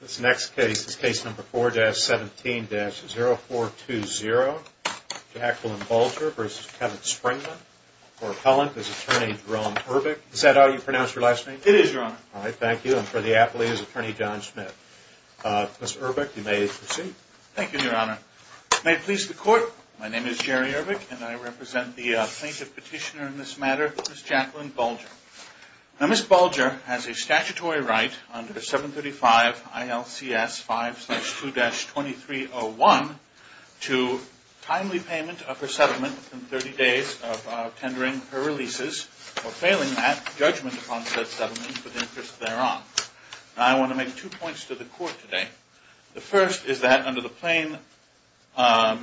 This next case is Case No. 4-17-0420, Jacqueline Bulger v. Kevin Springman, for appellant is Attorney Jerome Urbick. Is that how you pronounce your last name? It is, Your Honor. All right, thank you. And for the appellee is Attorney John Schmidt. Ms. Urbick, you may proceed. Thank you, Your Honor. May it please the Court, my name is Jerry Urbick and I represent the plaintiff petitioner in this matter, Ms. Jacqueline Bulger. Now, Ms. Bulger has a statutory right under 735 ILCS 5-2-2301 to timely payment of her settlement within 30 days of tendering her releases or failing that, judgment upon said settlement for the interest thereof. Now, I want to make two points to the Court today. The first is that under the plain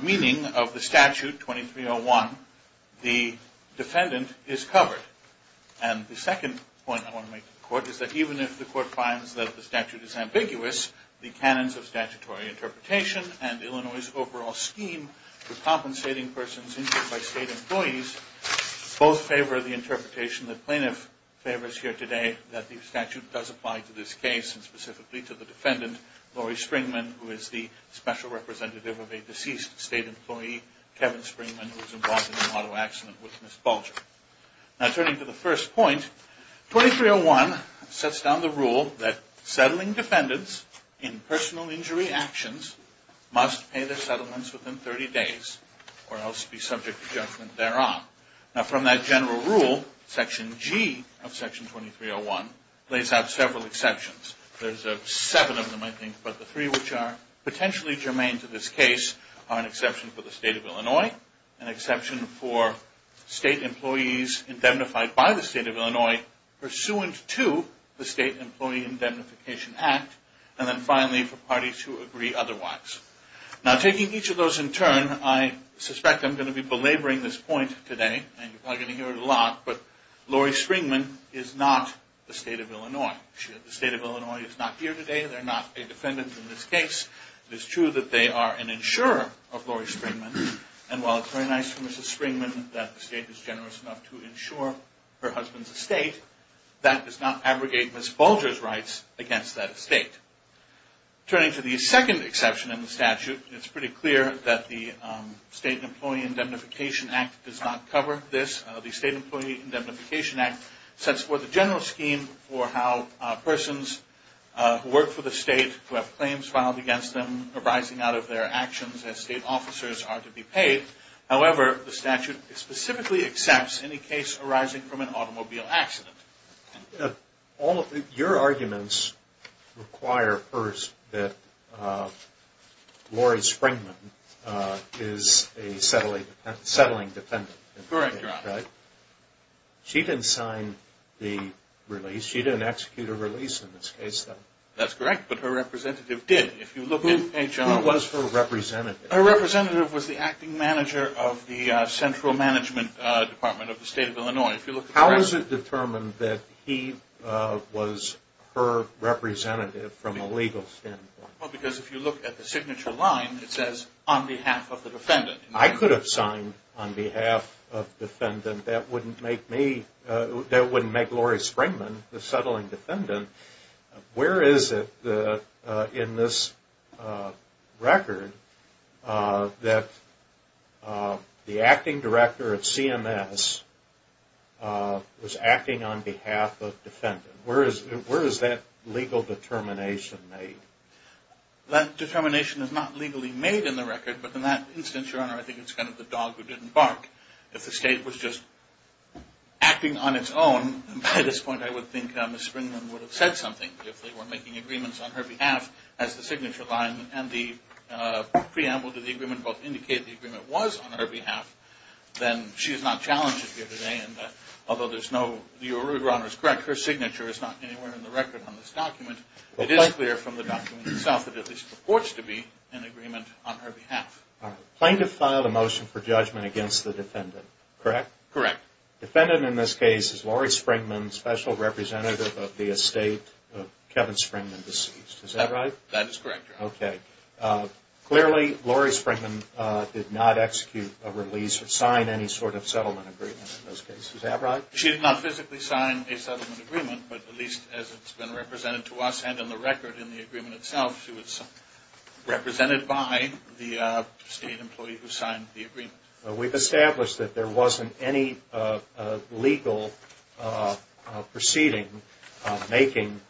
meaning of the statute 2301, the defendant is covered. And the second point I want to make to the Court is that the statute is ambiguous. The canons of statutory interpretation and Illinois' overall scheme for compensating persons injured by state employees both favor the interpretation the plaintiff favors here today that the statute does apply to this case and specifically to the defendant, Lori Springman, who is the special representative of a deceased state employee, Kevin Springman, who was involved in an auto accident with Ms. Bulger. Now, returning to the first point, 2301 sets down the rule that settling defendants in personal injury actions must pay their settlements within 30 days or else be subject to judgment thereof. Now, from that general rule, Section G of Section 2301 lays out several exceptions. There's seven of them, I think, but the three which are potentially germane to this case are an exception for the state of Illinois, an exception for state employees indemnified by the state of Illinois pursuant to the State Employee Indemnification Act, and then finally for parties who agree otherwise. Now, taking each of those in turn, I suspect I'm going to be belaboring this point today, and you're probably going to hear it a lot, but Lori Springman is not the state of Illinois. The state of Illinois is not here today. They're not a defendant in this case. It is true that they are an insurer of Lori Springman, and while it's very nice for Mrs. Springman that the state is generous enough to insure her husband's estate, that does not abrogate Ms. Bulger's rights against that estate. Turning to the second exception in the statute, it's pretty clear that the State Employee Indemnification Act does not cover this. The State Employee Indemnification Act sets forth a general scheme for how persons who work for the state who have claims filed against them arising out of their actions as state officers are to be paid. However, the statute specifically accepts any case arising from an automobile accident. Your arguments require first that Lori Springman is a settling defendant. Correct, Your Honor. She didn't sign the release. She didn't execute a release in this case, though. That's correct, but her representative did. Who was her representative? Her representative was the acting manager of the central management department of the state of Illinois. How is it determined that he was her representative from a legal standpoint? Because if you look at the signature line, it says, on behalf of the defendant. I could have signed on behalf of the defendant. That wouldn't make Lori Springman the settling How is it in this record that the acting director at CMS was acting on behalf of the defendant? Where is that legal determination made? That determination is not legally made in the record, but in that instance, Your Honor, I think it's kind of the dog who didn't bark. If the state was just acting on its own, by this point I would think Ms. Springman would have said something If they were making agreements on her behalf, as the signature line and the preamble to the agreement both indicate the agreement was on her behalf, then she is not challenged here today. Although Your Honor is correct, her signature is not anywhere in the record on this document. It is clear from the document itself that it at least purports to be an agreement on her behalf. Plaintiff filed a motion for judgment against the defendant, correct? Correct. The defendant in this case is Lori Springman, special representative of the estate of Kevin Springman, deceased. Is that right? That is correct, Your Honor. Clearly, Lori Springman did not execute a release or sign any sort of settlement agreement in this case. Is that right? She did not physically sign a settlement agreement, but at least as it's been represented to us and in the record in the agreement itself, she was represented by the state employee who signed the agreement. We've established that there wasn't any legal proceeding making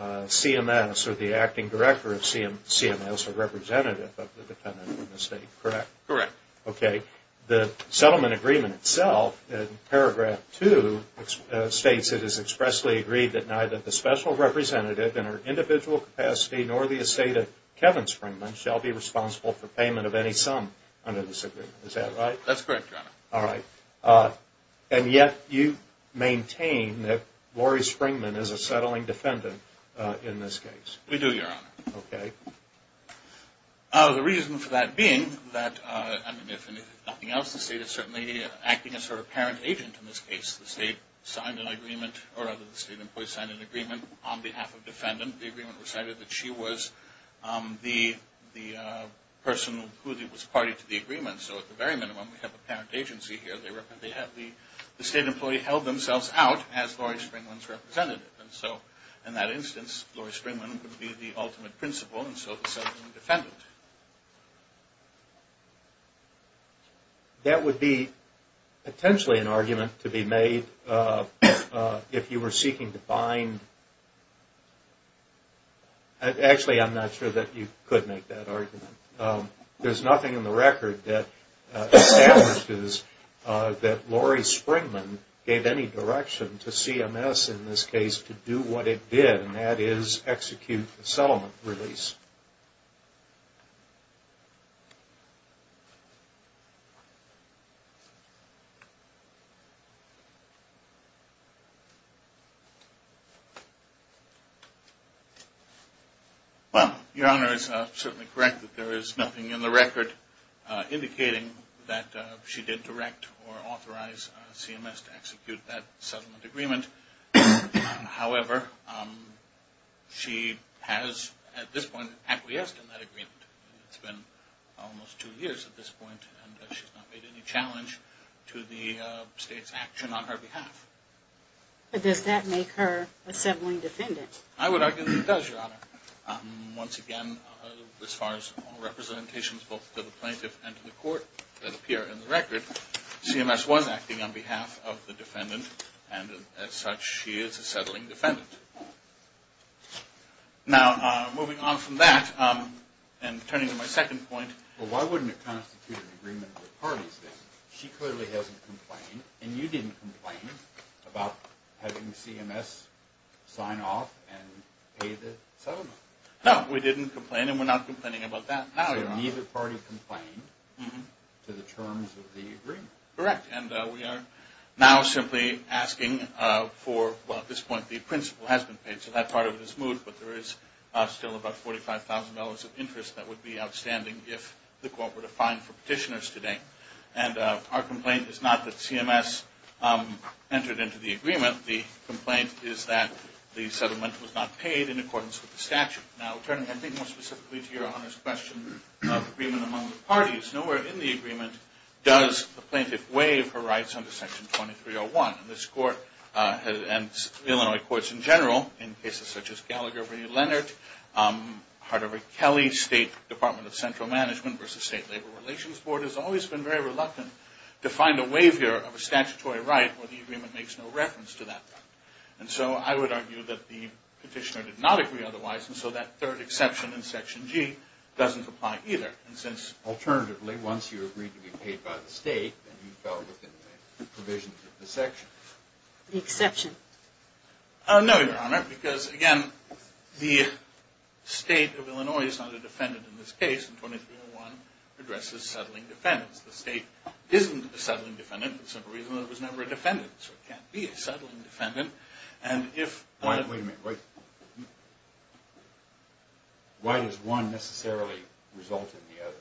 CMS or the acting director of CMS a representative of the defendant in the estate, correct? Correct. Okay. The settlement agreement itself, in paragraph 2, states it is expressly agreed that neither the special representative in her individual capacity nor the estate of Kevin Springman shall be responsible for payment of any sum under this agreement. Is that right? That's correct, Your Honor. All right. And yet you maintain that Lori Springman is a settling defendant in this case. We do, Your Honor. Okay. The reason for that being that, if nothing else, the state is certainly acting as her apparent agent in this case. The state signed an agreement, or rather the state employee signed an agreement on behalf of the defendant. The agreement recited that she was the person who was party to the agreement. So at the very minimum, we have an apparent agency here. The state employee held themselves out as Lori Springman's representative. And so in that instance, Lori Springman would be the ultimate principal and so the settling defendant. That would be potentially an argument to be made if you were seeking to find... Actually, I'm not sure that you could make that argument. There's nothing in the record that establishes that Lori Springman gave any direction to CMS in this case to do what it did, and that is execute the settlement release. Well, Your Honor is certainly correct that there is nothing in the record indicating that she did direct or authorize CMS to execute that settlement agreement. However, she has at this point acquiesced in that agreement. It's been almost two years at this point and she's not made any challenge to the state's action on her behalf. But does that make her a settling defendant? I would argue that it does, Your Honor. Once again, as far as representations both to the plaintiff and to the court that appear in the record, CMS was acting on behalf of the defendant and as such she is a settling defendant. Now, moving on from that and turning to my second point... Well, why wouldn't it constitute an agreement with the parties then? She clearly hasn't complained and you didn't complain about having CMS sign off and pay the settlement. No, we didn't complain and we're not complaining about that now, Your Honor. Neither party complained to the terms of the agreement. Correct, and we are now simply asking for... Well, at this point the principal has been paid so that part of it is moved, but there is still about $45,000 of interest that would be outstanding if the court were to fine for petitioners today. And our complaint is not that CMS entered into the agreement. The complaint is that the settlement was not paid in accordance with the statute. Now, turning more specifically to Your Honor's question of agreement among the parties, nowhere in the agreement does the plaintiff waive her rights under Section 2301. This court and Illinois courts in general in cases such as Gallagher v. Leonard, Hardover-Kelly State Department of Central Management v. State Labor Relations Board has always been very reluctant to find a waiver of a statutory right where the agreement makes no reference to that right. And so I would argue that the petitioner did not agree otherwise, and so that third exception in Section G doesn't apply either. And since, alternatively, once you agreed to be paid by the state, then you fell within the provisions of the section. The exception? No, Your Honor, because, again, the state of Illinois is not a defendant in this case, and 2301 addresses settling defendants. The state isn't a settling defendant for the simple reason that it was never a defendant, so it can't be a settling defendant. Wait a minute. Why does one necessarily result in the other?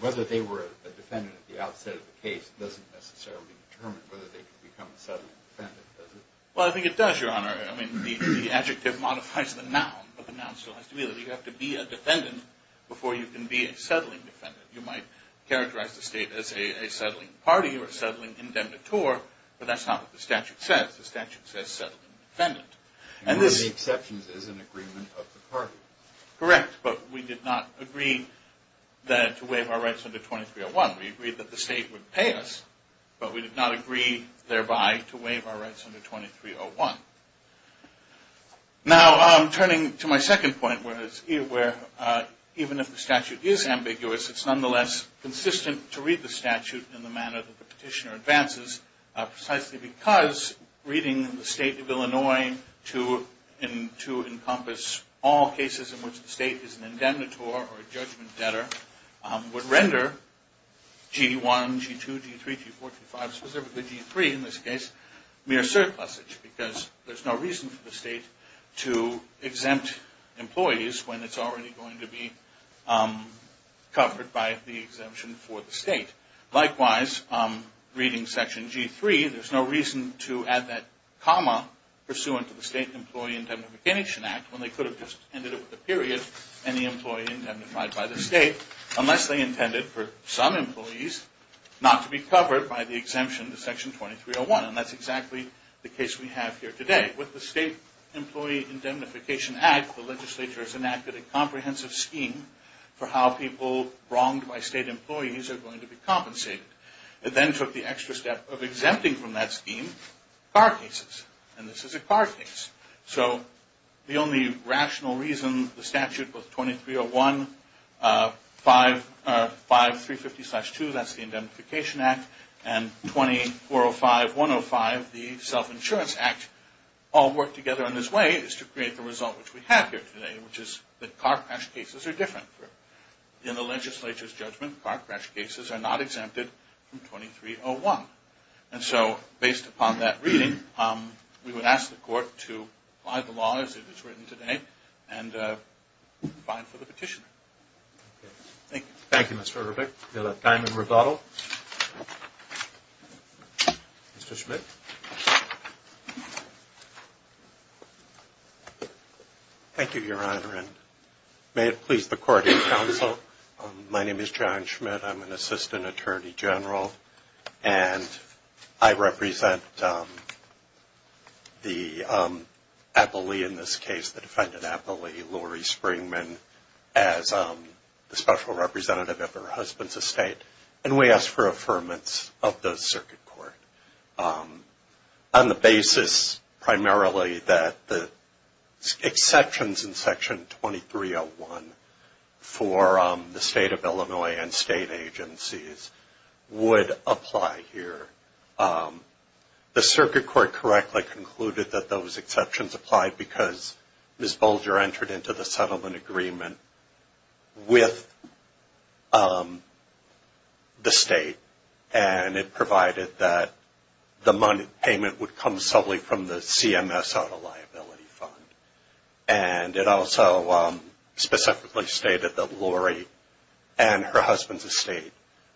Whether they were a defendant at the outset of the case doesn't necessarily determine whether they can become a settling defendant, does it? Well, I think it does, Your Honor. I mean, the adjective modifies the noun, but the noun still has to be there. You have to be a defendant before you can be a settling defendant. You might characterize the state as a settling party or a settling indemnitor, but that's not what the statute says. The statute says settling defendant. And one of the exceptions is an agreement of the party. Correct, but we did not agree to waive our rights under 2301. We agreed that the state would pay us, but we did not agree thereby to waive our rights under 2301. Now, turning to my second point, where even if the statute is ambiguous, it's nonetheless consistent to read the statute in the manner that the petitioner advances, precisely because reading the state of Illinois to encompass all cases in which the state is an indemnitor or a judgment debtor would render G1, G2, G3, G4, G5, specifically G3 in this case, mere surplusage because there's no reason for the state to exempt employees when it's already going to be covered by the exemption for the state. Likewise, reading section G3, there's no reason to add that comma pursuant to the State Employee Indemnification Act when they could have just ended up with a period, any employee indemnified by the state, unless they intended for some employees not to be covered by the exemption to section 2301. And that's exactly the case we have here today. With the State Employee Indemnification Act, the legislature has enacted a comprehensive scheme for how people wronged by state employees are going to be compensated. It then took the extra step of exempting from that scheme car cases, and this is a car case. So the only rational reason the statute was 2301, 5350-2, that's the Indemnification Act, and 2405-105, the Self-Insurance Act, all work together in this way is to create the result which we have here today, which is that car crash cases are different. In the legislature's judgment, car crash cases are not exempted from 2301. And so based upon that reading, we would ask the Court to apply the law as it is written today and find for the petitioner. Thank you. Thank you, Mr. Herbeck. We'll have time in rebuttal. Mr. Schmidt. Thank you, Your Honor, and may it please the Court and Counsel, my name is John Schmidt. I'm an Assistant Attorney General, and I represent the appellee in this case, the defendant appellee, Lori Springman, as the Special Representative at her husband's estate, and we ask for affirmance of the Circuit Court on the basis primarily that the exceptions in Section 2301 for the State of Illinois and State agencies would apply here. The Circuit Court correctly concluded that those exceptions applied because Ms. Bolger entered into the settlement agreement with the State, and it provided that the payment would come solely from the CMS out-of-liability fund. And it also specifically stated that Lori and her husband's estate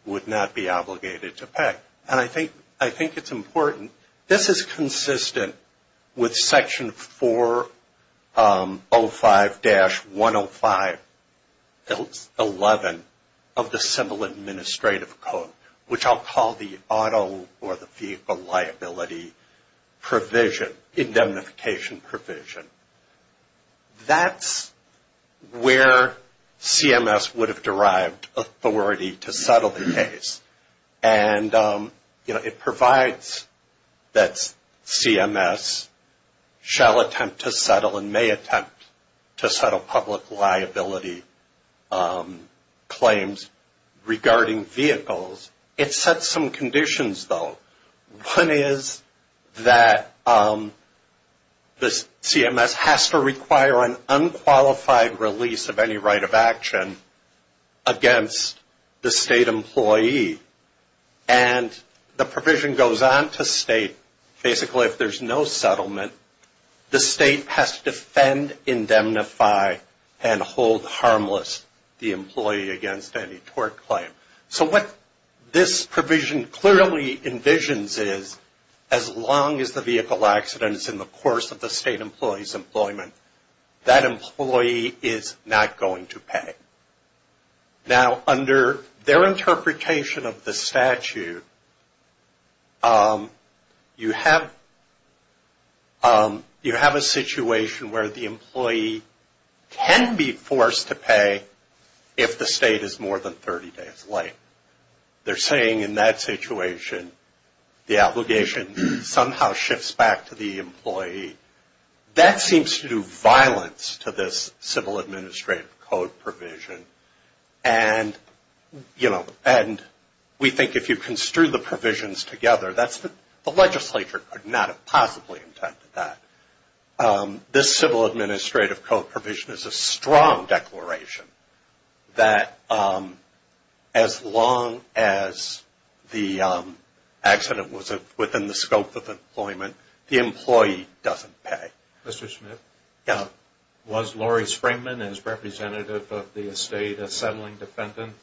would not be obligated to pay. And I think it's important, this is consistent with Section 405-10511 of the Simple Administrative Code, which I'll call the auto or the vehicle liability provision, indemnification provision. That's where CMS would have derived authority to settle the case. And it provides that CMS shall attempt to settle and may attempt to settle public liability claims regarding vehicles. It sets some conditions, though. One is that the CMS has to require an unqualified release of any right of action against the State employee. And the provision goes on to state, basically if there's no settlement, the State has to defend, indemnify, and hold harmless the employee against any tort claim. So what this provision clearly envisions is as long as the vehicle accident is in the course of the State employee's employment, that employee is not going to pay. Now, under their interpretation of the statute, you have a situation where the employee can be forced to pay if the State is more than 30 days late. They're saying in that situation the obligation somehow shifts back to the employee. That seems to do violence to this Civil Administrative Code provision. And we think if you construe the provisions together, the legislature could not have possibly intended that. This Civil Administrative Code provision is a strong declaration that as long as the accident was within the scope of employment, the employee doesn't pay. Mr. Smith? Yeah. Was Laurie Springman, as representative of the State, a settling defendant?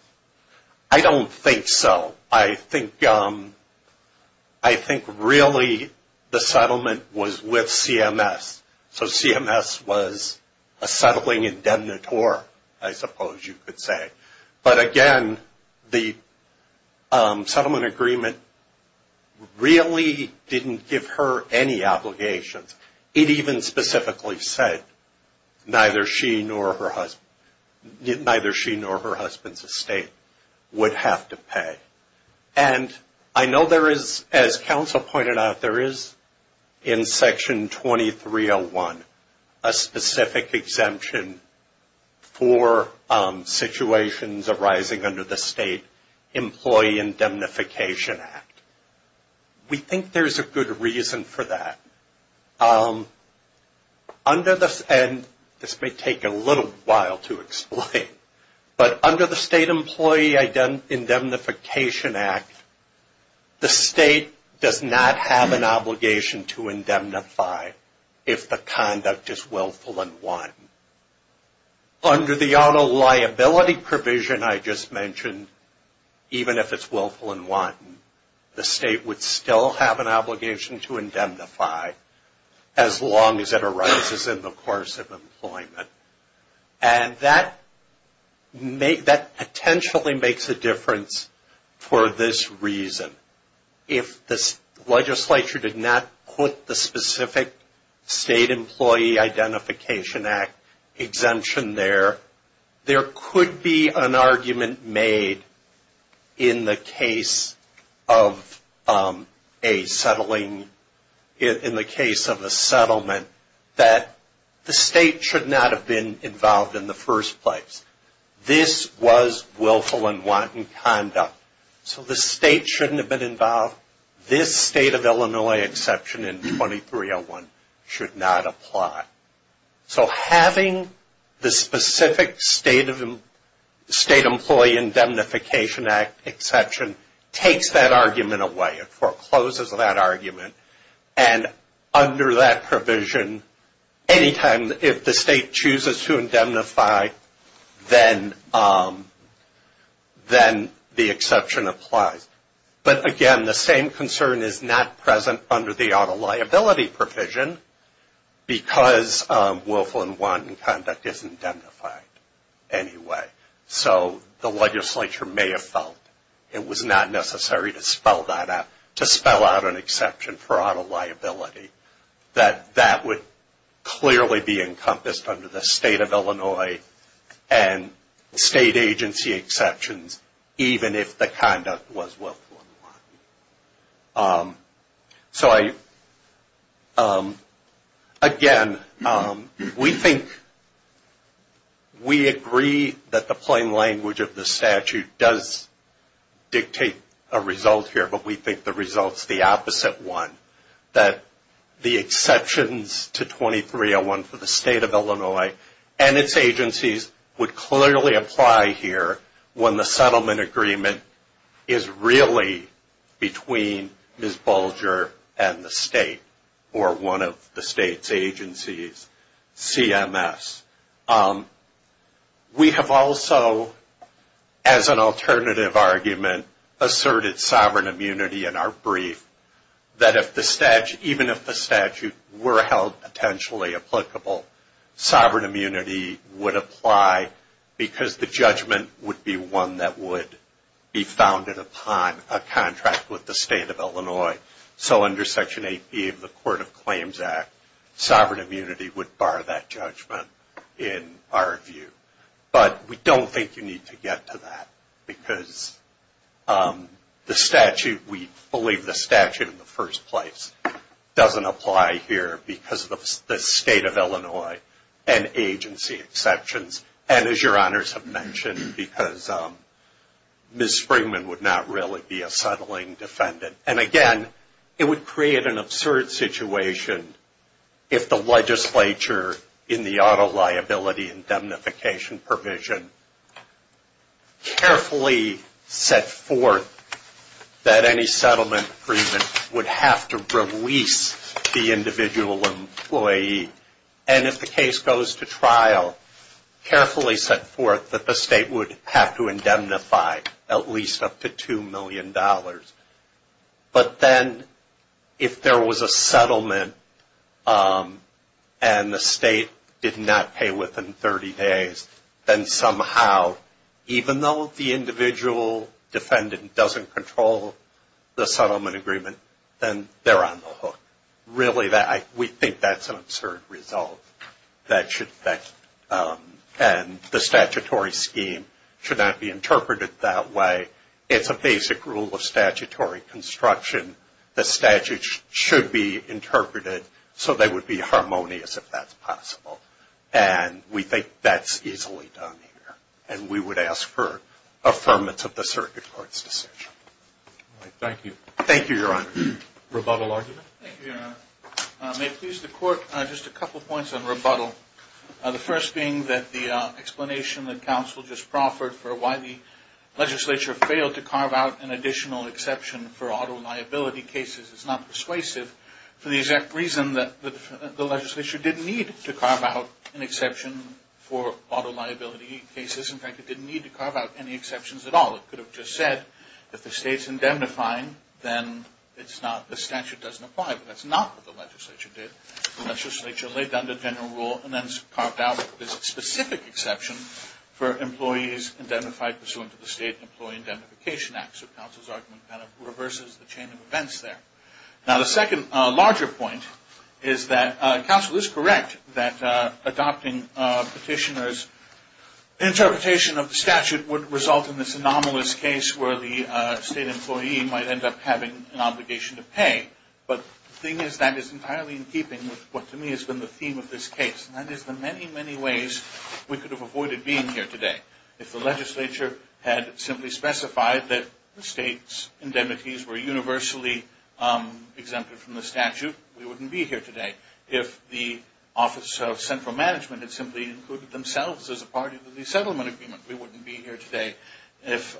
I don't think so. I think really the settlement was with CMS. So CMS was a settling indemnitor, I suppose you could say. But again, the settlement agreement really didn't give her any obligations. It even specifically said neither she nor her husband's estate would have to pay. And I know there is, as counsel pointed out, there is in Section 2301 a specific exemption for situations arising under the State Employee Indemnification Act. We think there's a good reason for that. And this may take a little while to explain, but under the State Employee Indemnification Act, the State does not have an obligation to indemnify if the conduct is willful and wanton. Under the auto liability provision I just mentioned, even if it's willful and wanton, the State would still have an obligation to indemnify as long as it arises in the course of employment. And that potentially makes a difference for this reason. If the legislature did not put the specific State Employee Identification Act exemption there, there could be an argument made in the case of a settling, in the case of a settlement, that the State should not have been involved in the first place. This was willful and wanton conduct, so the State shouldn't have been involved. This State of Illinois exception in 2301 should not apply. So having the specific State Employee Indemnification Act exception takes that argument away. It forecloses that argument. And under that provision, any time if the State chooses to indemnify, then the exception applies. But again, the same concern is not present under the auto liability provision, because willful and wanton conduct isn't indemnified anyway. So the legislature may have felt it was not necessary to spell that out, to spell out an exception for auto liability, that that would clearly be encompassed under the State of Illinois and State agency exceptions, even if the conduct was willful and wanton. Again, we think, we agree that the plain language of the statute does dictate a result here, but we think the result's the opposite one. That the exceptions to 2301 for the State of Illinois and its agencies would clearly apply here when the settlement agreement is really between Ms. Bulger and the State, or one of the State's agencies, CMS. We have also, as an alternative argument, asserted sovereign immunity in our brief, that if the statute, even if the statute were held potentially applicable, sovereign immunity would apply because the judgment would be one that would be founded upon a contract with the State of Illinois. So under Section 8B of the Court of Claims Act, sovereign immunity would bar that judgment in our view. But we don't think you need to get to that, because the statute, we believe the statute in the first place, doesn't apply here because of the State of Illinois and agency exceptions. And as your honors have mentioned, because Ms. Springman would not really be a settling defendant. And again, it would create an absurd situation if the legislature, in the auto liability indemnification provision, carefully set forth that any settlement agreement would have to release the individual employee. And if the case goes to trial, carefully set forth that the State would have to indemnify at least up to $2 million. But then if there was a settlement and the State did not pay within 30 days, then somehow even though the individual defendant doesn't control the settlement agreement, then they're on the hook. Really, we think that's an absurd result. And the statutory scheme should not be interpreted that way. It's a basic rule of statutory construction. The statute should be interpreted so they would be harmonious if that's possible. And we think that's easily done here. And we would ask for affirmance of the circuit court's decision. Thank you. Thank you, your honor. Rebuttal argument. Thank you, your honor. May it please the court, just a couple points on rebuttal. The first being that the explanation that counsel just proffered for why the legislature failed to carve out an additional exception for auto liability cases is not persuasive for the exact reason that the legislature didn't need to carve out an exception for auto liability cases. In fact, it didn't need to carve out any exceptions at all. It could have just said if the State's indemnifying, then the statute doesn't apply. But that's not what the legislature did. The legislature laid down the general rule and then carved out a specific exception for employees indemnified pursuant to the State Employee Indemnification Act. So counsel's argument kind of reverses the chain of events there. Now the second larger point is that counsel is correct that adopting petitioners' interpretation of the statute would result in this anomalous case where the state employee might end up having an obligation to pay. But the thing is that is entirely in keeping with what to me has been the theme of this case, and that is the many, many ways we could have avoided being here today If the legislature had simply specified that the State's indemnities were universally exempted from the statute, we wouldn't be here today. If the Office of Central Management had simply included themselves as a part of the resettlement agreement, we wouldn't be here today. If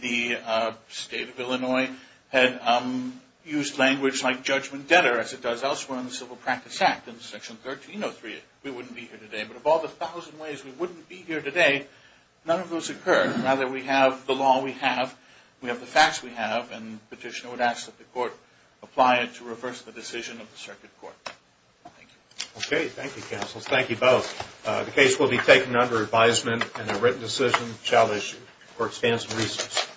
the State of Illinois had used language like judgment debtor as it does elsewhere in the Civil Practice Act, in Section 1303, we wouldn't be here today. But of all the thousand ways we wouldn't be here today, none of those occur. Now that we have the law we have, we have the facts we have, and the petitioner would ask that the court apply it to reverse the decision of the circuit court. Thank you. Okay. Thank you, counsel. Thank you both. The case will be taken under advisement, and a written decision shall issue. Court stands in recess.